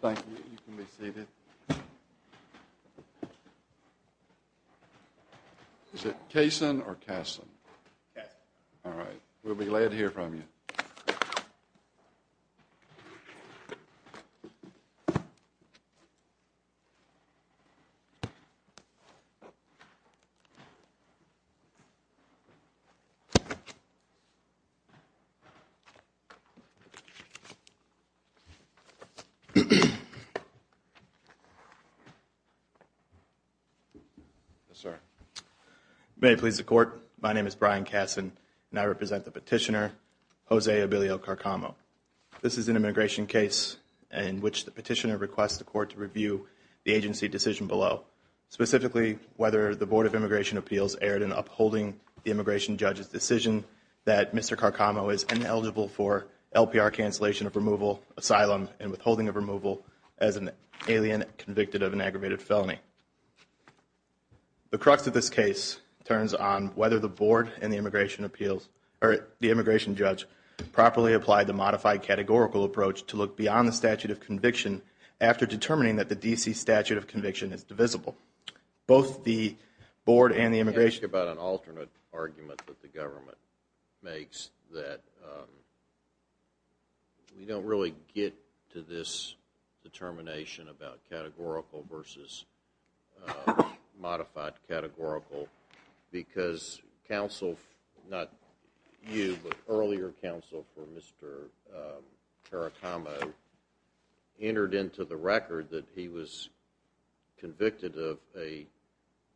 Thank you. You can be seated. Is it Cason or Casson? Casson. All right. We'll be glad to hear from you. Yes, sir. May it please the court, my name is Brian Casson, and I represent the petitioner, Jose Abelio Carcamo. This is an immigration case in which the petitioner requests the court to review the agency decision below, specifically whether the Board of Immigration Appeals erred in upholding the immigration judge's decision that Mr. Carcamo is ineligible for LPR cancellation of removal, asylum, and withholding of removal as an alien convicted of an aggravated felony. The crux of this case turns on whether the board and the immigration judge properly applied the modified categorical approach to look beyond the statute of conviction after determining that the D.C. statute of conviction is divisible. Can I ask you about an alternate argument that the government makes that we don't really get to this determination about categorical versus modified categorical because earlier counsel for Mr. Carcamo entered into the record that he was convicted of a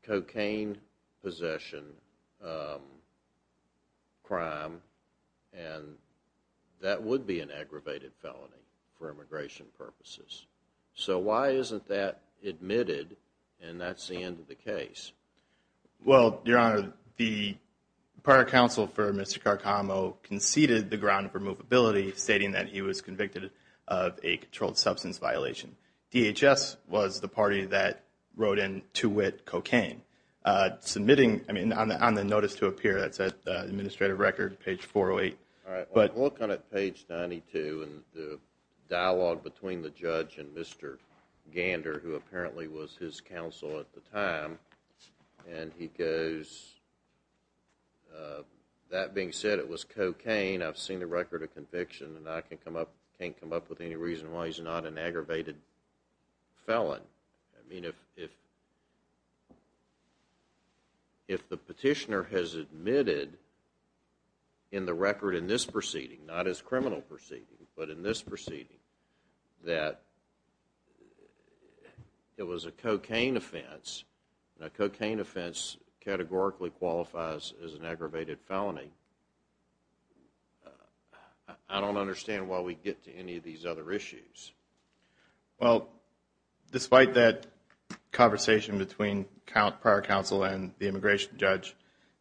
cocaine possession crime and that would be an aggravated felony for immigration purposes. So why isn't that admitted and that's the end of the case? Well, Your Honor, the prior counsel for Mr. Carcamo conceded the ground of removability stating that he was convicted of a controlled substance violation. DHS was the party that wrote in to wit cocaine. Submitting, I mean, on the notice to appear, that's at the administrative record, page 408. All right, I'll look on page 92 and the dialogue between the judge and Mr. Gander who apparently was his counsel at the time and he goes, That being said, it was cocaine. I've seen the record of conviction and I can't come up with any reason why he's not an aggravated felon. I mean, if the petitioner has admitted in the record in this proceeding, not his criminal proceeding, but in this proceeding, that it was a cocaine offense and a cocaine offense categorically qualifies as an aggravated felony, I don't understand why we get to any of these other issues. Well, despite that conversation between prior counsel and the immigration judge,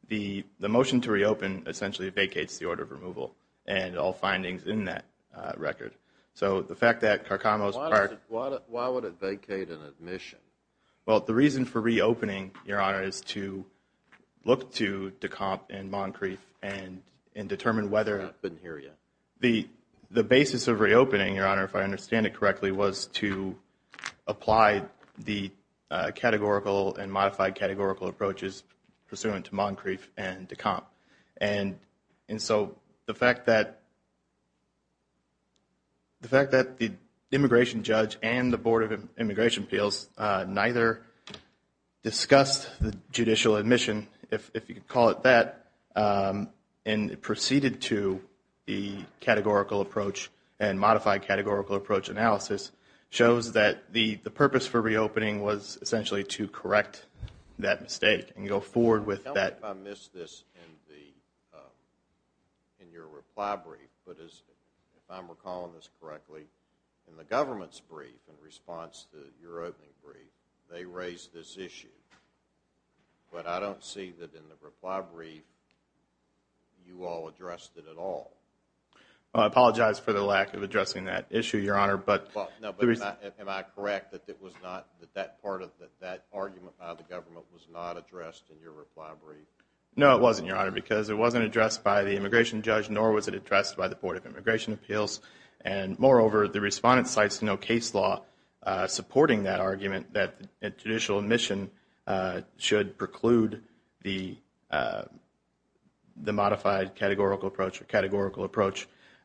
the motion to reopen essentially vacates the order of removal and all findings in that record. Why would it vacate an admission? Well, the reason for reopening, Your Honor, is to look to Decomp and Moncrief and determine whether the basis of reopening, Your Honor, if I understand it correctly, was to apply the categorical and modified categorical approaches pursuant to Moncrief and Decomp. And so the fact that the immigration judge and the Board of Immigration Appeals neither discussed the judicial admission, if you could call it that, and proceeded to the categorical approach and modified categorical approach analysis, shows that the purpose for reopening was essentially to correct that mistake and go forward with that. I think I missed this in your reply brief, but if I'm recalling this correctly, in the government's brief in response to your opening brief, they raised this issue. But I don't see that in the reply brief you all addressed it at all. I apologize for the lack of addressing that issue, Your Honor. Am I correct that that argument by the government was not addressed in your reply brief? No, it wasn't, Your Honor, because it wasn't addressed by the immigration judge, nor was it addressed by the Board of Immigration Appeals. And moreover, the respondent cites no case law supporting that argument that judicial admission should preclude the modified categorical approach,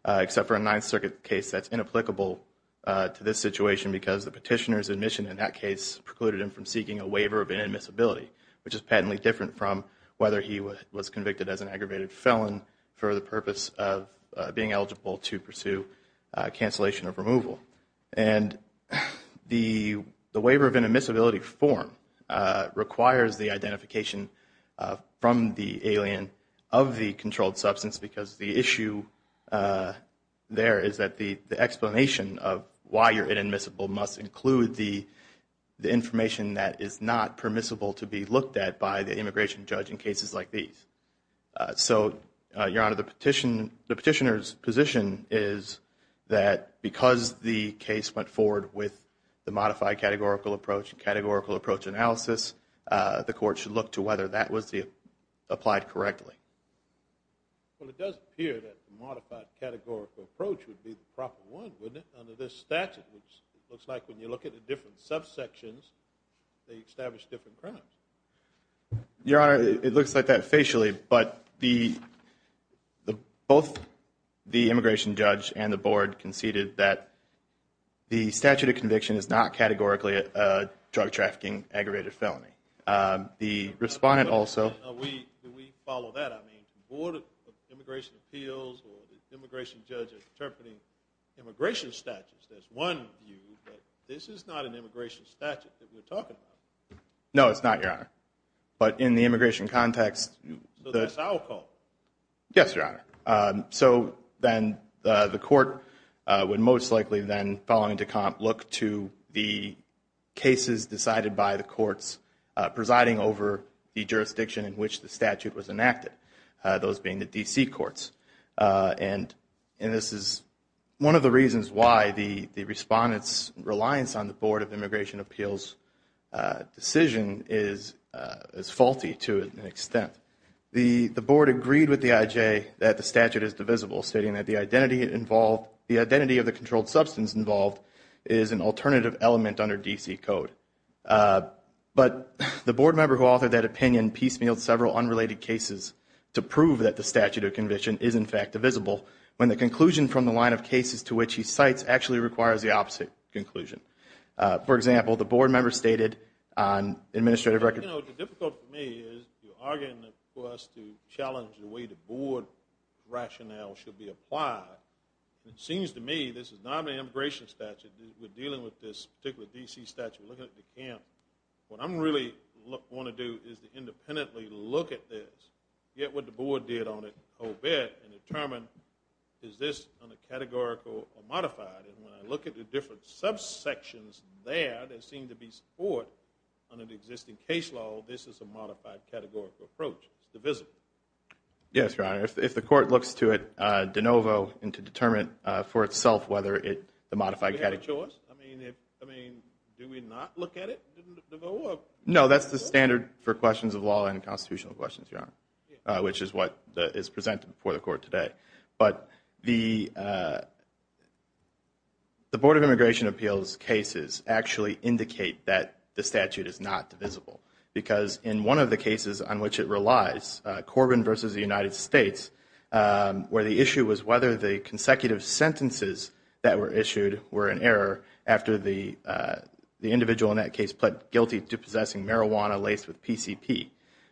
except for a Ninth Circuit case that's inapplicable to this situation because the petitioner's admission in that case precluded him from seeking a waiver of inadmissibility, which is patently different from whether he was convicted as an aggravated felon for the purpose of being eligible to pursue cancellation of removal. And the waiver of inadmissibility form requires the identification from the alien of the controlled substance because the issue there is that the explanation of why you're inadmissible must include the information that is not permissible to be looked at by the immigration judge in cases like these. So, Your Honor, the petitioner's position is that because the case went forward with the modified categorical approach and categorical approach analysis, the court should look to whether that was applied correctly. Well, it does appear that the modified categorical approach would be the proper one, wouldn't it, under this statute, which looks like when you look at the different subsections, they establish different crimes. Your Honor, it looks like that facially, but both the immigration judge and the board conceded that the statute of conviction is not categorically a drug-trafficking aggravated felony. The respondent also... Do we follow that? I mean, the Board of Immigration Appeals or the immigration judge is interpreting immigration statutes. That's one view, but this is not an immigration statute that we're talking about. No, it's not, Your Honor. But in the immigration context... So that's our call. Yes, Your Honor. So then the court would most likely then, following Decomp, look to the cases decided by the courts presiding over the jurisdiction in which the statute was enacted, those being the D.C. courts. And this is one of the reasons why the respondent's reliance on the Board of Immigration Appeals decision is faulty to an extent. The board agreed with the I.J. that the statute is divisible, stating that the identity of the controlled substance involved is an alternative element under D.C. code. But the board member who authored that opinion piecemealed several unrelated cases to prove that the statute of conviction is, in fact, divisible, when the conclusion from the line of cases to which he cites actually requires the opposite conclusion. For example, the board member stated on administrative record... You know, the difficulty for me is you're arguing for us to challenge the way the board rationale should be applied. It seems to me this is not an immigration statute. We're dealing with this particular D.C. statute. We're looking at Decomp. What I'm really going to do is to independently look at this, get what the board did on it, and determine is this categorical or modified. And when I look at the different subsections there that seem to be support under the existing case law, this is a modified categorical approach. It's divisible. Yes, Your Honor. If the court looks to it de novo and to determine for itself whether the modified category... Do we have a choice? I mean, do we not look at it? No, that's the standard for questions of law and constitutional questions, Your Honor, which is what is presented before the court today. But the Board of Immigration Appeals cases actually indicate that the statute is not divisible because in one of the cases on which it relies, Corbyn versus the United States, where the issue was whether the consecutive sentences that were issued were in error after the individual in that case pled guilty to possessing marijuana laced with PCP.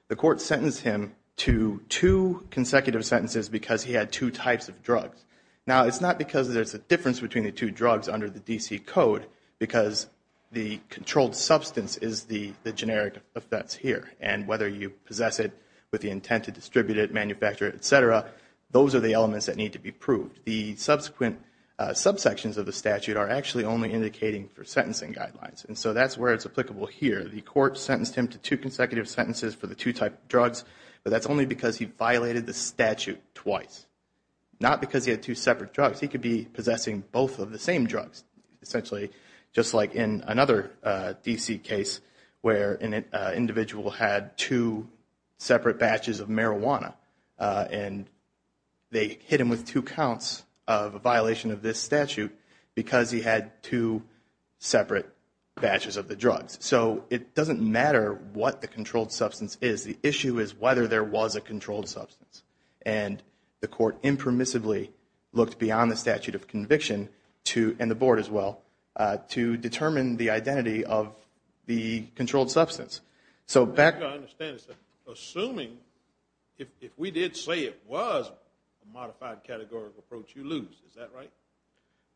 The court sentenced him to two consecutive sentences because he had two types of drugs. Now, it's not because there's a difference between the two drugs under the D.C. Code because the controlled substance is the generic offense here. And whether you possess it with the intent to distribute it, manufacture it, et cetera, those are the elements that need to be proved. The subsequent subsections of the statute are actually only indicating for sentencing guidelines. And so that's where it's applicable here. The court sentenced him to two consecutive sentences for the two types of drugs, but that's only because he violated the statute twice. Not because he had two separate drugs. He could be possessing both of the same drugs. Essentially, just like in another D.C. case where an individual had two separate batches of marijuana and they hit him with two counts of a violation of this statute because he had two separate batches of the drugs. So it doesn't matter what the controlled substance is. The issue is whether there was a controlled substance. And the court impermissibly looked beyond the statute of conviction to, and the board as well, to determine the identity of the controlled substance. So back to understanding, assuming if we did say it was a modified categorical approach, you lose. Is that right?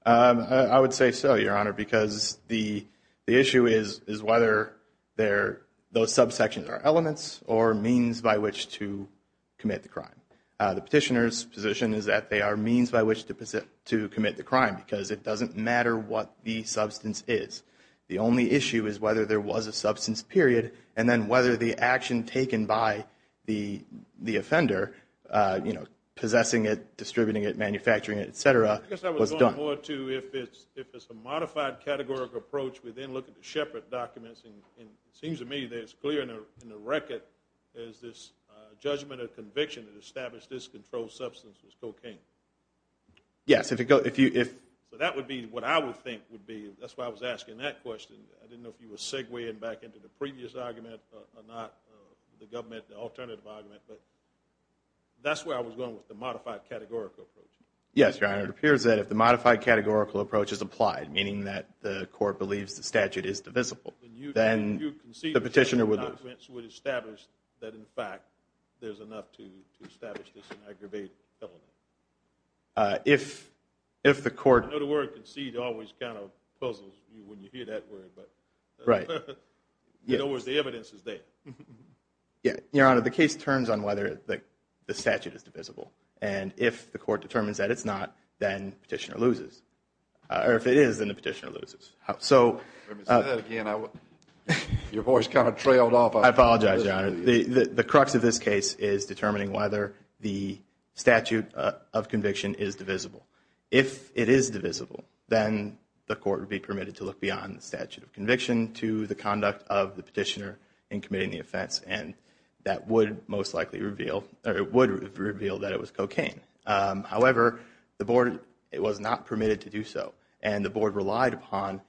I would say so, Your Honor, because the issue is whether those subsections are elements or means by which to commit the crime. The petitioner's position is that they are means by which to commit the crime because it doesn't matter what the substance is. The only issue is whether there was a substance, period, and then whether the action taken by the offender, you know, possessing it, distributing it, manufacturing it, et cetera, was done. I guess I was going more to if it's a modified categorical approach, we then look at the Shepard documents. And it seems to me that it's clear in the record is this judgment of conviction that established this controlled substance was cocaine. Yes. So that would be what I would think would be. That's why I was asking that question. I didn't know if you were segueing back into the previous argument or not, the government alternative argument. That's where I was going with the modified categorical approach. Yes, Your Honor. It appears that if the modified categorical approach is applied, meaning that the court believes the statute is divisible, then the petitioner would lose. You concede that the documents would establish that, in fact, there's enough to establish this aggravated element. If the court— I know the word concede always kind of puzzles you when you hear that word. Right. In other words, the evidence is there. Your Honor, the case turns on whether the statute is divisible. And if the court determines that it's not, then the petitioner loses. Or if it is, then the petitioner loses. Let me say that again. Your voice kind of trailed off. I apologize, Your Honor. The crux of this case is determining whether the statute of conviction is divisible. If it is divisible, then the court would be permitted to look beyond the statute of conviction to the conduct of the petitioner in committing the offense, and that would most likely reveal—it would reveal that it was cocaine. However, the board was not permitted to do so, and the board relied upon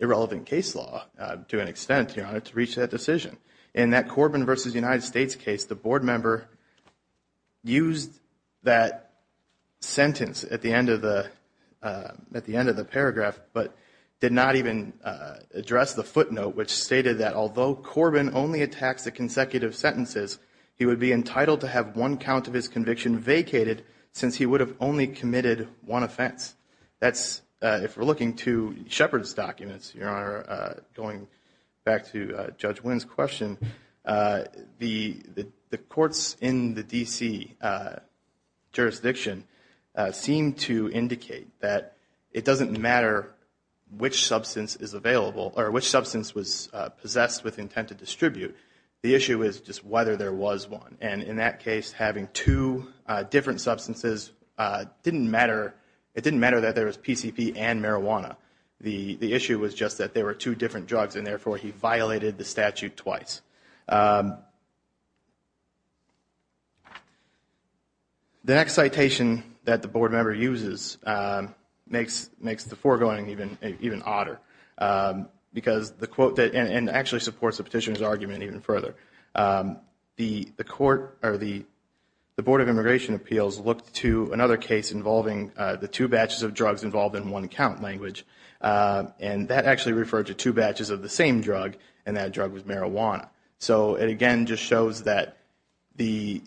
irrelevant case law, to an extent, Your Honor, to reach that decision. In that Corbin v. United States case, the board member used that sentence at the end of the paragraph but did not even address the footnote, which stated that although Corbin only attacks the consecutive sentences, he would be entitled to have one count of his conviction vacated since he would have only committed one offense. That's, if we're looking to Shepard's documents, Your Honor, going back to Judge Wynn's question, the courts in the D.C. jurisdiction seem to indicate that it doesn't matter which substance is available or which substance was possessed with intent to distribute. The issue is just whether there was one. And in that case, having two different substances didn't matter. It didn't matter that there was PCP and marijuana. The issue was just that there were two different drugs, and therefore he violated the statute twice. The next citation that the board member uses makes the foregoing even odder and actually supports the petitioner's argument even further. The Board of Immigration Appeals looked to another case involving the two batches of drugs involved in one count language, and that actually referred to two batches of the same drug, and that drug was marijuana. So it again just shows that the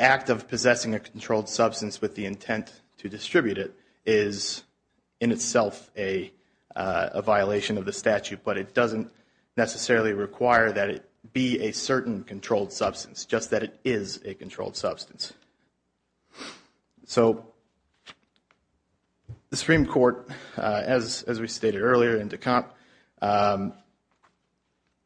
act of possessing a controlled substance with the intent to distribute it is in itself a violation of the statute, but it doesn't necessarily require that it be a certain controlled substance, just that it is a controlled substance. So the Supreme Court, as we stated earlier in Decomp,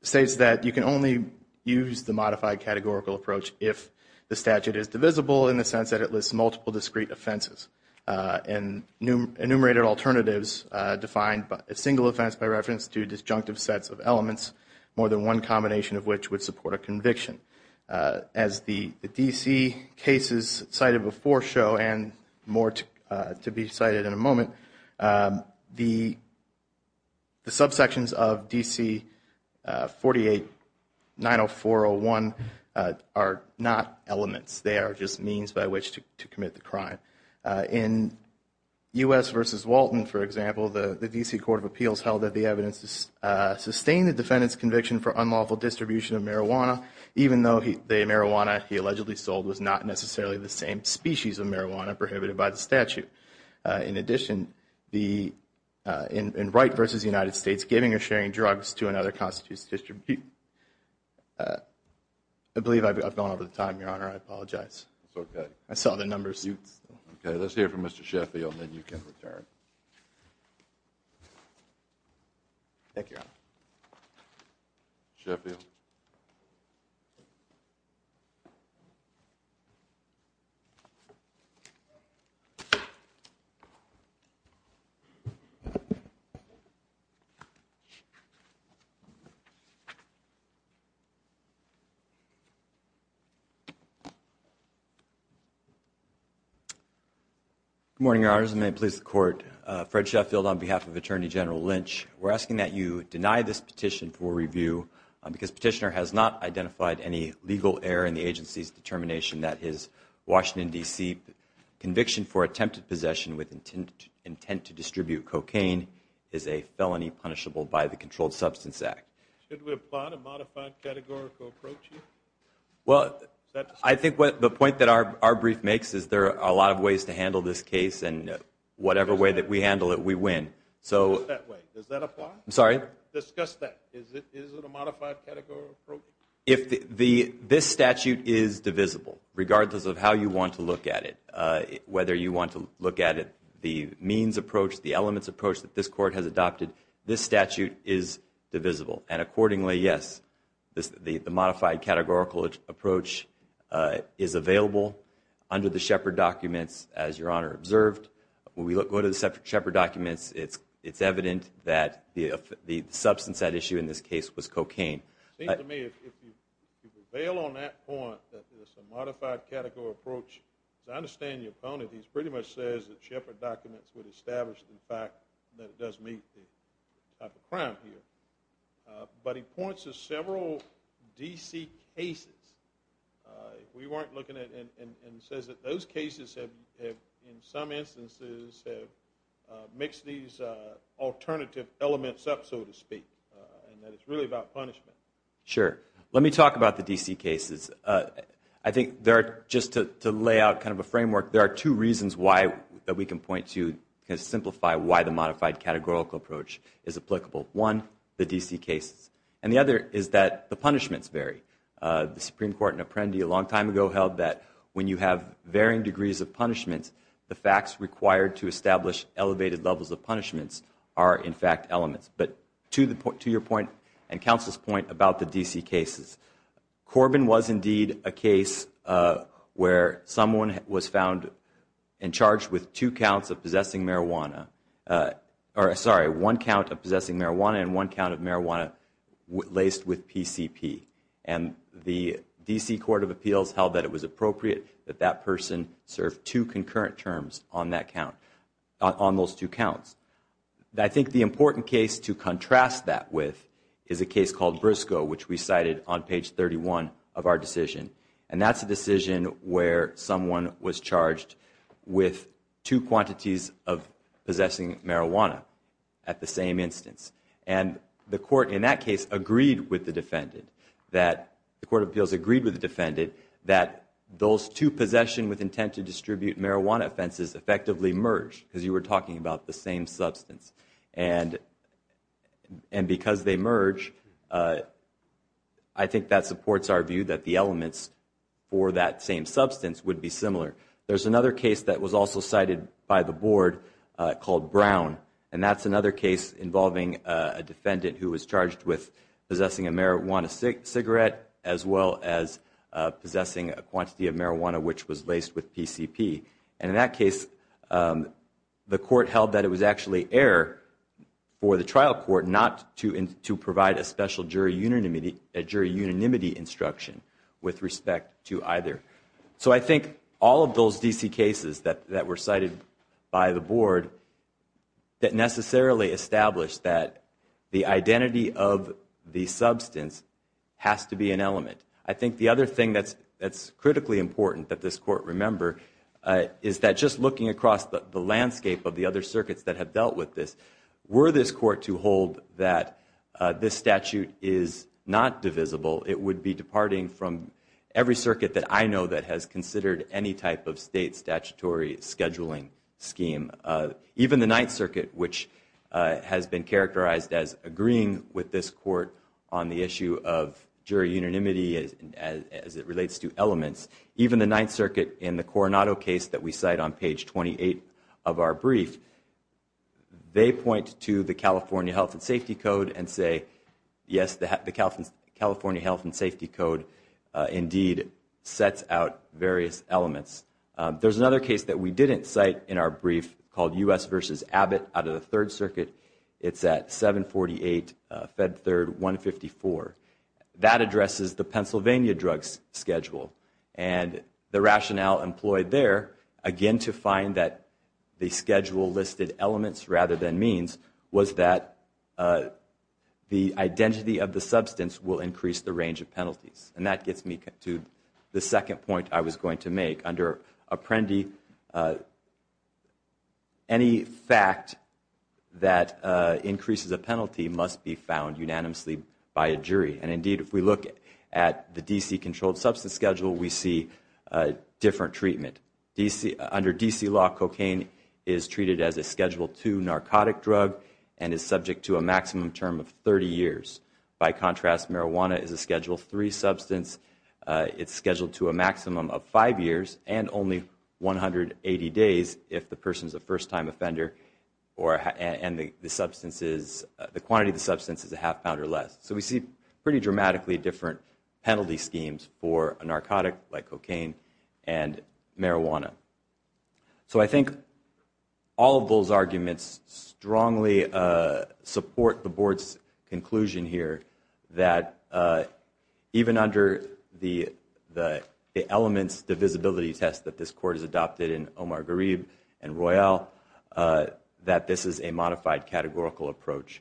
states that you can only use the modified categorical approach if the statute is divisible in the sense that it lists multiple discrete offenses and enumerated alternatives defined by a single offense by reference to disjunctive sets of elements, more than one combination of which would support a conviction. As the DC cases cited before show, and more to be cited in a moment, the subsections of DC 4890401 are not elements. They are just means by which to commit the crime. In U.S. v. Walton, for example, the DC Court of Appeals held that the evidence sustained the defendant's conviction for unlawful distribution of marijuana even though the marijuana he allegedly sold was not necessarily the same species of marijuana prohibited by the statute. In addition, in Wright v. United States, giving or sharing drugs to another constitutes distribution. I believe I've gone over the time, Your Honor. I apologize. It's okay. I saw the numbers. Okay. Let's hear from Mr. Sheffield, and then you can return. Thank you, Your Honor. Sheffield. Good morning, Your Honors, and may it please the Court. Fred Sheffield on behalf of Attorney General Lynch. We're asking that you deny this petition for review because Petitioner has not identified any legal error in the agency's determination that his Washington, D.C., conviction for attempted possession with intent to distribute cocaine is a felony punishable by the Controlled Substance Act. Should we apply a modified categorical approach here? I think the point that our brief makes is there are a lot of ways to handle this case, and whatever way that we handle it, we win. Does that apply? I'm sorry? Discuss that. Is it a modified categorical approach? This statute is divisible, regardless of how you want to look at it, whether you want to look at it the means approach, the elements approach that this Court has adopted. This statute is divisible, and accordingly, yes, the modified categorical approach is available under the Shepard documents, as Your Honor observed. When we go to the Shepard documents, it's evident that the substance at issue in this case was cocaine. It seems to me if you prevail on that point, that there's a modified categorical approach, as I understand your opponent, he pretty much says that Shepard documents would establish the fact that it does meet the type of crime here. But he points to several D.C. cases. If we weren't looking at it, and says that those cases have, in some instances, have mixed these alternative elements up, so to speak, and that it's really about punishment. Sure. Let me talk about the D.C. cases. I think there are, just to lay out kind of a framework, there are two reasons why we can point to, kind of simplify why the modified categorical approach is applicable. One, the D.C. cases, and the other is that the punishments vary. The Supreme Court in Apprendi a long time ago held that when you have varying degrees of punishments, the facts required to establish elevated levels of punishments are, in fact, elements. But to your point and counsel's point about the D.C. cases, Corbin was indeed a case where someone was found in charge with two counts of possessing marijuana, or sorry, one count of possessing marijuana and one count of marijuana laced with PCP. And the D.C. Court of Appeals held that it was appropriate that that person serve two concurrent terms on that count, on those two counts. I think the important case to contrast that with is a case called Briscoe, which we cited on page 31 of our decision. And that's a decision where someone was charged with two quantities of possessing marijuana at the same instance. And the court in that case agreed with the defendant, that the Court of Appeals agreed with the defendant that those two possession with intent to distribute marijuana offenses effectively merge, because you were talking about the same substance. And because they merge, I think that supports our view that the elements for that same substance would be similar. There's another case that was also cited by the board called Brown, and that's another case involving a defendant who was charged with possessing a marijuana cigarette as well as possessing a quantity of marijuana which was laced with PCP. And in that case, the court held that it was actually error for the trial court not to provide a special jury unanimity instruction with respect to either. So I think all of those D.C. cases that were cited by the board that necessarily established that the identity of the substance has to be an element. I think the other thing that's critically important that this court remember is that just looking across the landscape of the other circuits that have dealt with this, were this court to hold that this statute is not divisible, it would be departing from every circuit that I know that has considered any type of state statutory scheduling scheme. Even the Ninth Circuit, which has been characterized as agreeing with this court on the issue of jury unanimity as it relates to elements, even the Ninth Circuit in the Coronado case that we cite on page 28 of our brief, they point to the California Health and Safety Code and say, yes, the California Health and Safety Code indeed sets out various elements. There's another case that we didn't cite in our brief called U.S. v. Abbott out of the Third Circuit. It's at 748 Fed Third 154. That addresses the Pennsylvania drug schedule. And the rationale employed there, again to find that the schedule listed elements rather than means, was that the identity of the substance will increase the range of penalties. And that gets me to the second point I was going to make. Under Apprendi, any fact that increases a penalty must be found unanimously by a jury. And indeed, if we look at the D.C. controlled substance schedule, we see different treatment. Under D.C. law, cocaine is treated as a Schedule II narcotic drug and is subject to a maximum term of 30 years. By contrast, marijuana is a Schedule III substance. It's scheduled to a maximum of five years and only 180 days if the person is a first-time offender and the quantity of the substance is a half pound or less. So we see pretty dramatically different penalty schemes for a narcotic like cocaine and marijuana. So I think all of those arguments strongly support the board's conclusion here that even under the elements divisibility test that this court has adopted in Omar Gharib and Royal, that this is a modified categorical approach.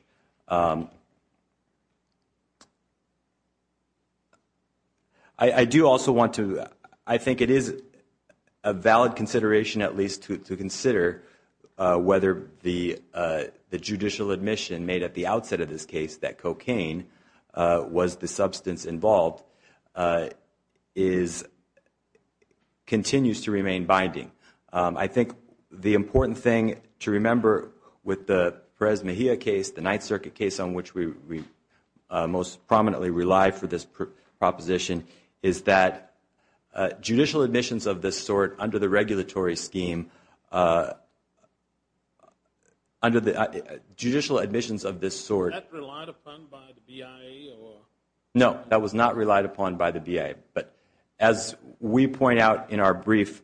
I do also want to, I think it is a valid consideration at least to consider whether the judicial admission made at the outset of this case that cocaine was the substance involved continues to remain binding. I think the important thing to remember with the Perez Mejia case, the Ninth Circuit case on which we most prominently rely for this proposition, is that judicial admissions of this sort under the regulatory scheme, under the judicial admissions of this sort. Was that relied upon by the BIA? No, that was not relied upon by the BIA. But as we point out in our brief,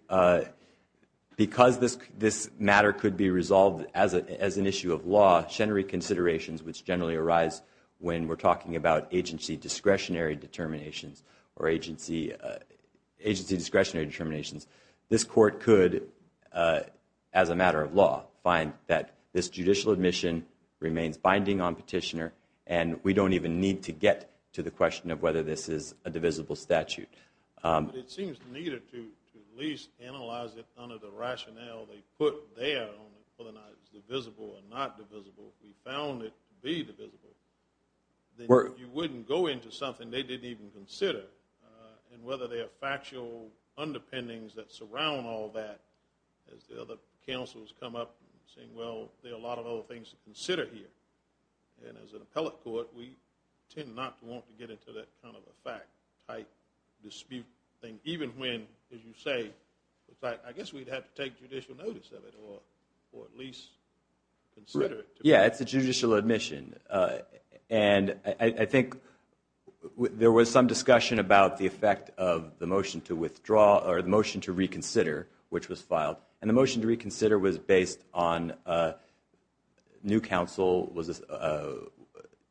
because this matter could be resolved as an issue of law, generally considerations which generally arise when we're talking about agency discretionary determinations or agency discretionary determinations. This court could, as a matter of law, find that this judicial admission remains binding on petitioner and we don't even need to get to the question of whether this is a divisible statute. It seems needed to at least analyze it under the rationale they put there, whether or not it's divisible or not divisible. If we found it to be divisible, then you wouldn't go into something they didn't even consider. And whether there are factual underpinnings that surround all that, as the other counsels come up saying, well, there are a lot of other things to consider here. And as an appellate court, we tend not to want to get into that kind of a fact-type dispute thing, even when, as you say, I guess we'd have to take judicial notice of it or at least consider it. Yeah, it's a judicial admission. And I think there was some discussion about the effect of the motion to withdraw or the motion to reconsider, which was filed. And the motion to reconsider was based on new counsel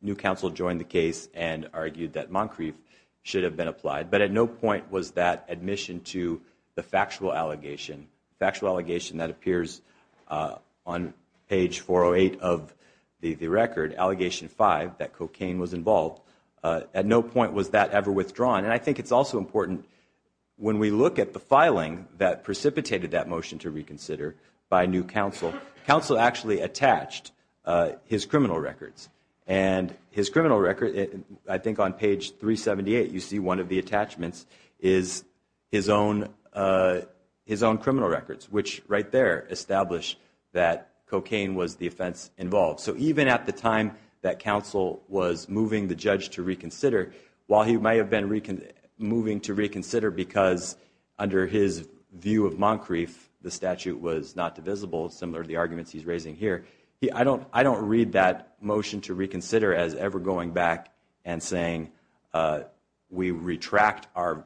joined the case and argued that Moncrief should have been applied. But at no point was that admission to the factual allegation, factual allegation that appears on page 408 of the record, allegation five, that cocaine was involved. At no point was that ever withdrawn. And I think it's also important when we look at the filing that precipitated that motion to reconsider by new counsel, counsel actually attached his criminal records. And his criminal record, I think on page 378, you see one of the attachments is his own criminal records, which right there establish that cocaine was the offense involved. So even at the time that counsel was moving the judge to reconsider, while he may have been moving to reconsider because under his view of Moncrief the statute was not divisible, similar to the arguments he's raising here, I don't read that motion to reconsider as ever going back and saying we retract our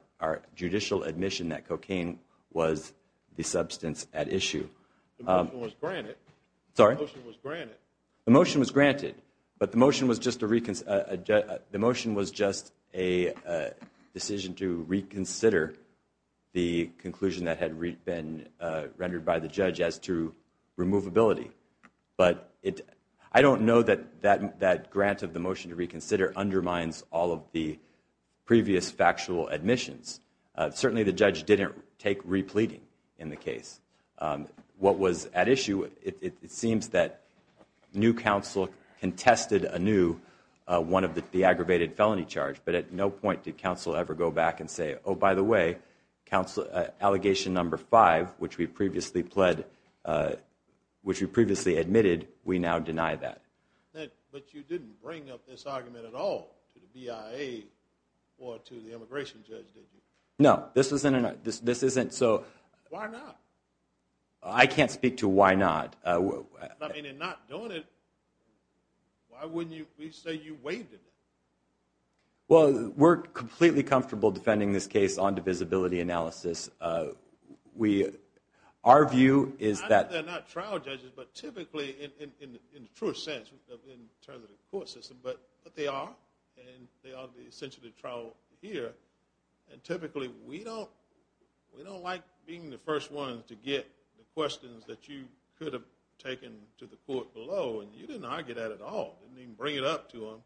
judicial admission that cocaine was the substance at issue. The motion was granted. The motion was granted. But the motion was just a decision to reconsider the conclusion that had been rendered by the judge as to removability. But I don't know that that grant of the motion to reconsider undermines all of the previous factual admissions. Certainly the judge didn't take repleting in the case. What was at issue, it seems that new counsel contested anew one of the aggravated felony charge. But at no point did counsel ever go back and say, oh, by the way, allegation number five, which we previously pled, which we previously admitted, we now deny that. But you didn't bring up this argument at all to the BIA or to the immigration judge, did you? No. Why not? I can't speak to why not. I mean, in not doing it, why wouldn't you say you waived it? Well, we're completely comfortable defending this case on divisibility analysis. Our view is that- I know they're not trial judges, but typically, in the truest sense, in terms of the court system, but they are, and they are essentially trial here. And typically, we don't like being the first ones to get the questions that you could have taken to the court below. And you didn't argue that at all. You didn't even bring it up to them.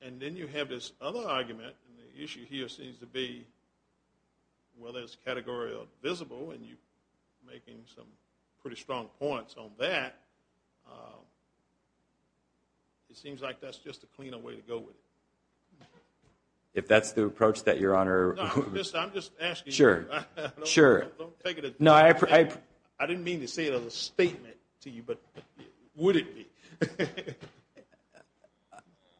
And then you have this other argument, and the issue here seems to be whether it's categorical or divisible, and you're making some pretty strong points on that. It seems like that's just a cleaner way to go with it. If that's the approach that Your Honor- No, I'm just asking you. Sure. Don't take it as- No, I-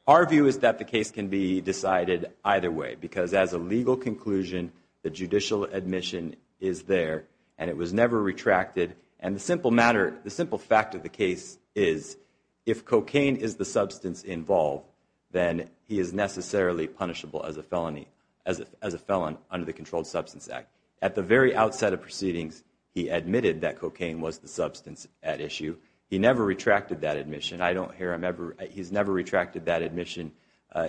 Our view is that the case can be decided either way, because as a legal conclusion, the judicial admission is there, and it was never retracted. And the simple matter, the simple fact of the case is, if cocaine is the substance involved, then he is necessarily punishable as a felon under the Controlled Substance Act. At the very outset of Proceedings, he admitted that cocaine was the substance at issue. He never retracted that admission. I don't hear him ever-he's never retracted that admission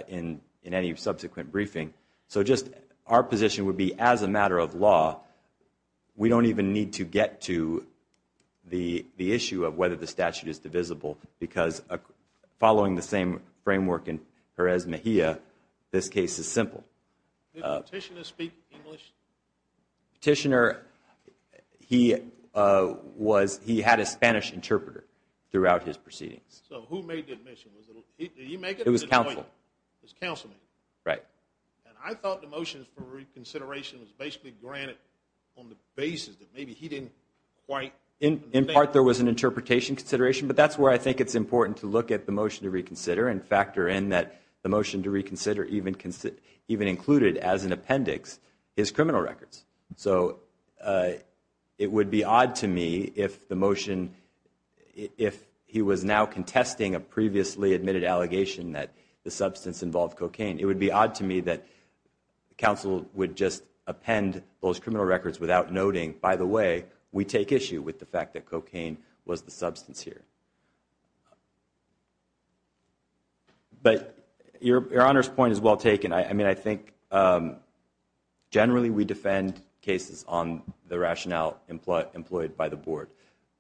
in any subsequent briefing. So just our position would be, as a matter of law, we don't even need to get to the issue of whether the statute is divisible, because following the same framework in Jerez Mejia, this case is simple. Did Petitioner speak English? Petitioner, he had a Spanish interpreter throughout his proceedings. So who made the admission? Did he make it? It was counsel. It was counsel. Right. And I thought the motion for reconsideration was basically granted on the basis that maybe he didn't quite- In part, there was an interpretation consideration, but that's where I think it's important to look at the motion to reconsider and factor in that the motion to reconsider even included as an appendix his criminal records. So it would be odd to me if the motion- if he was now contesting a previously admitted allegation that the substance involved cocaine, it would be odd to me that counsel would just append those criminal records without noting, by the way, we take issue with the fact that cocaine was the substance here. But Your Honor's point is well taken. I mean, I think generally we defend cases on the rationale employed by the board,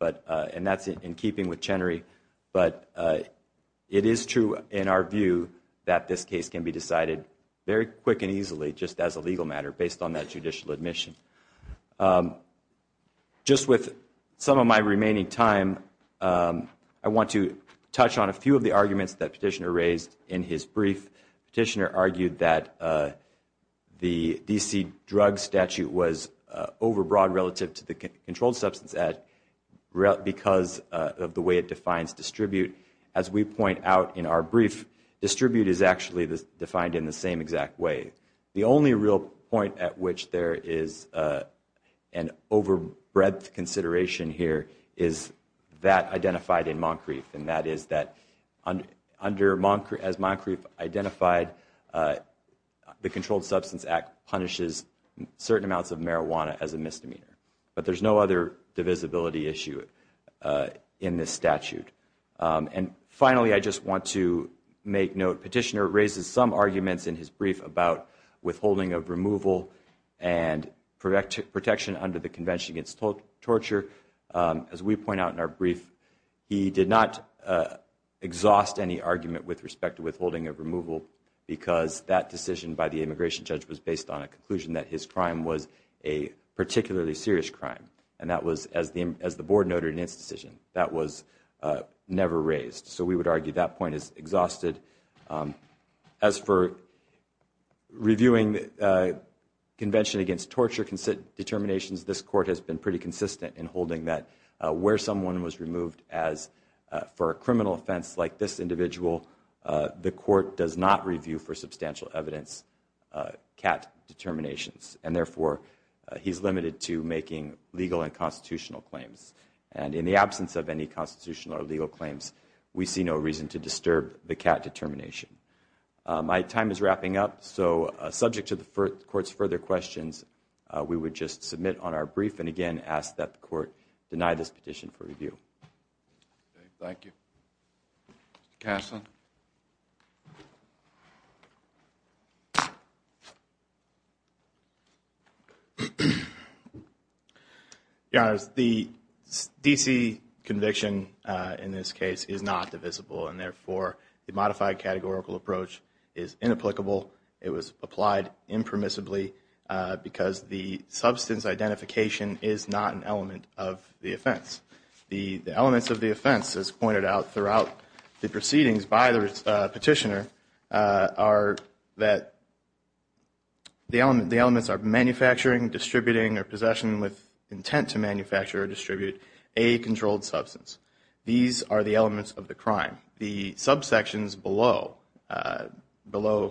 and that's in keeping with Chenery, but it is true in our view that this case can be decided very quick and easily just as a legal matter based on that judicial admission. Just with some of my remaining time, I want to touch on a few of the arguments that Petitioner raised in his brief. Petitioner argued that the D.C. drug statute was overbroad relative to the Controlled Substance Act because of the way it defines distribute. As we point out in our brief, distribute is actually defined in the same exact way. The only real point at which there is an overbreadth consideration here is that identified in Moncrief, and that is that as Moncrief identified, the Controlled Substance Act punishes certain amounts of marijuana as a misdemeanor. But there's no other divisibility issue in this statute. And finally, I just want to make note, Petitioner raises some arguments in his brief about withholding of removal and protection under the Convention Against Torture. As we point out in our brief, he did not exhaust any argument with respect to withholding of removal because that decision by the immigration judge was based on a conclusion that his crime was a particularly serious crime, and that was, as the board noted in its decision, that was never raised. So we would argue that point is exhausted. As for reviewing Convention Against Torture determinations, this court has been pretty consistent in holding that where someone was removed for a criminal offense like this individual, the court does not review for substantial evidence CAT determinations. And therefore, he's limited to making legal and constitutional claims. And in the absence of any constitutional or legal claims, we see no reason to disturb the CAT determination. My time is wrapping up, so subject to the court's further questions, we would just submit on our brief and again ask that the court deny this petition for review. Thank you. Mr. Caslen? Your Honors, the D.C. conviction in this case is not divisible, and therefore the modified categorical approach is inapplicable. It was applied impermissibly because the substance identification is not an element of the offense. The elements of the offense, as pointed out throughout the proceedings by the petitioner, are that the elements are manufacturing, distributing, or possession with intent to manufacture or distribute a controlled substance. These are the elements of the crime. The subsections below 1A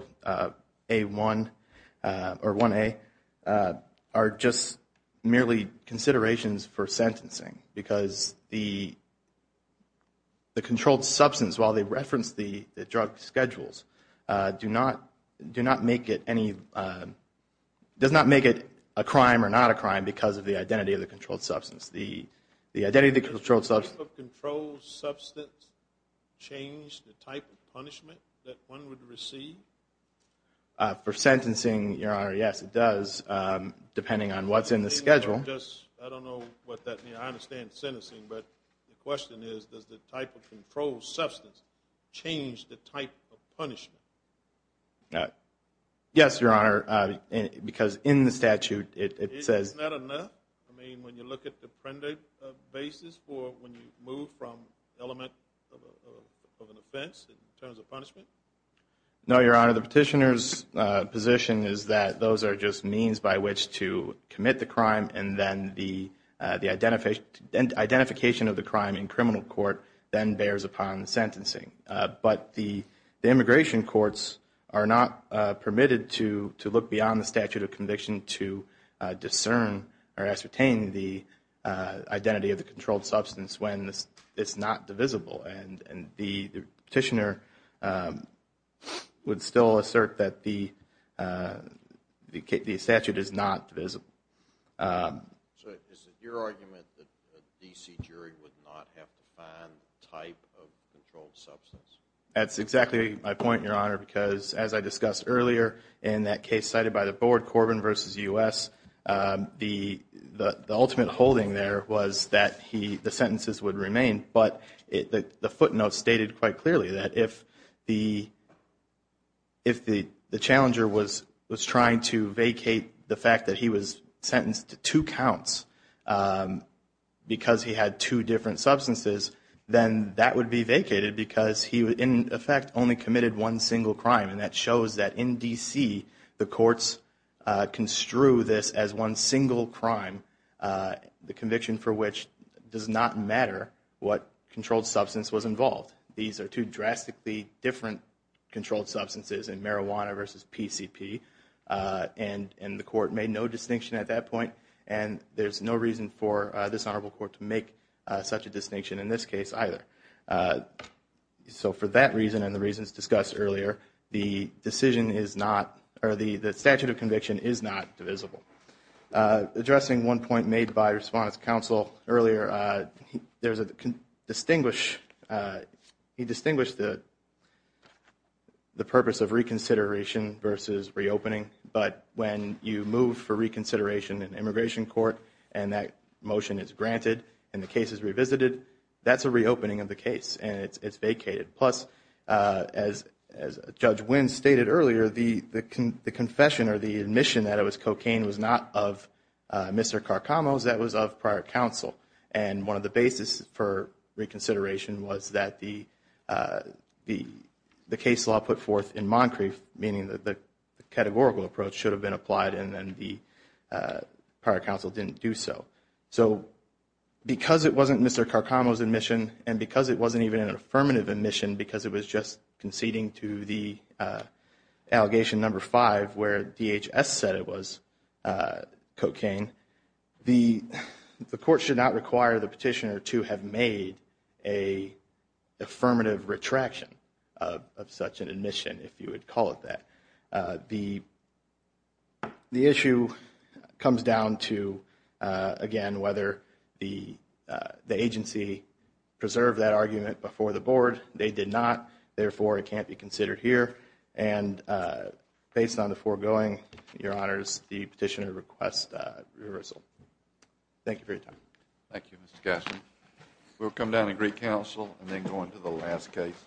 are just merely considerations for sentencing because the controlled substance, while they reference the drug schedules, does not make it a crime or not a crime because of the identity of the controlled substance. Does the type of controlled substance change the type of punishment that one would receive? For sentencing, Your Honor, yes, it does, depending on what's in the schedule. I don't know what that means. I understand sentencing, but the question is does the type of controlled substance change the type of punishment? Yes, Your Honor, because in the statute it says Isn't that enough? I mean, when you look at the printed basis for when you move from element of an offense in terms of punishment? No, Your Honor, the petitioner's position is that those are just means by which to commit the crime and then the identification of the crime in criminal court then bears upon sentencing. But the immigration courts are not permitted to look beyond the statute of conviction to discern or ascertain the identity of the controlled substance when it's not divisible. And the petitioner would still assert that the statute is not divisible. So is it your argument that a D.C. jury would not have to find the type of controlled substance? That's exactly my point, Your Honor, because as I discussed earlier in that case cited by the board, Corbin v. U.S., the ultimate holding there was that the sentences would remain. But the footnotes stated quite clearly that if the challenger was trying to vacate the fact that he was sentenced to two counts because he had two different substances, then that would be vacated because he, in effect, only committed one single crime. And that shows that in D.C. the courts construe this as one single crime, the conviction for which does not matter what controlled substance was involved. These are two drastically different controlled substances in marijuana versus PCP. And the court made no distinction at that point. And there's no reason for this Honorable Court to make such a distinction in this case either. So for that reason and the reasons discussed earlier, the decision is not, or the statute of conviction is not divisible. Addressing one point made by Respondent's counsel earlier, he distinguished the purpose of reconsideration versus reopening. But when you move for reconsideration in immigration court and that motion is granted and the case is revisited, that's a reopening of the case and it's vacated. Plus, as Judge Wins stated earlier, the confession or the admission that it was cocaine was not of Mr. Carcamo's, that was of prior counsel. And one of the basis for reconsideration was that the case law put forth in Moncrief, meaning that the categorical approach should have been applied and then the prior counsel didn't do so. So because it wasn't Mr. Carcamo's admission and because it wasn't even an affirmative admission because it was just conceding to the allegation number five where DHS said it was cocaine, the court should not require the petitioner to have made an affirmative retraction of such an admission, if you would call it that. The issue comes down to, again, whether the agency preserved that argument before the board. They did not. Therefore, it can't be considered here. And based on the foregoing, Your Honors, the petitioner requests reversal. Thank you for your time. Thank you, Mr. Gaffney. We'll come down and greet counsel and then go on to the last case.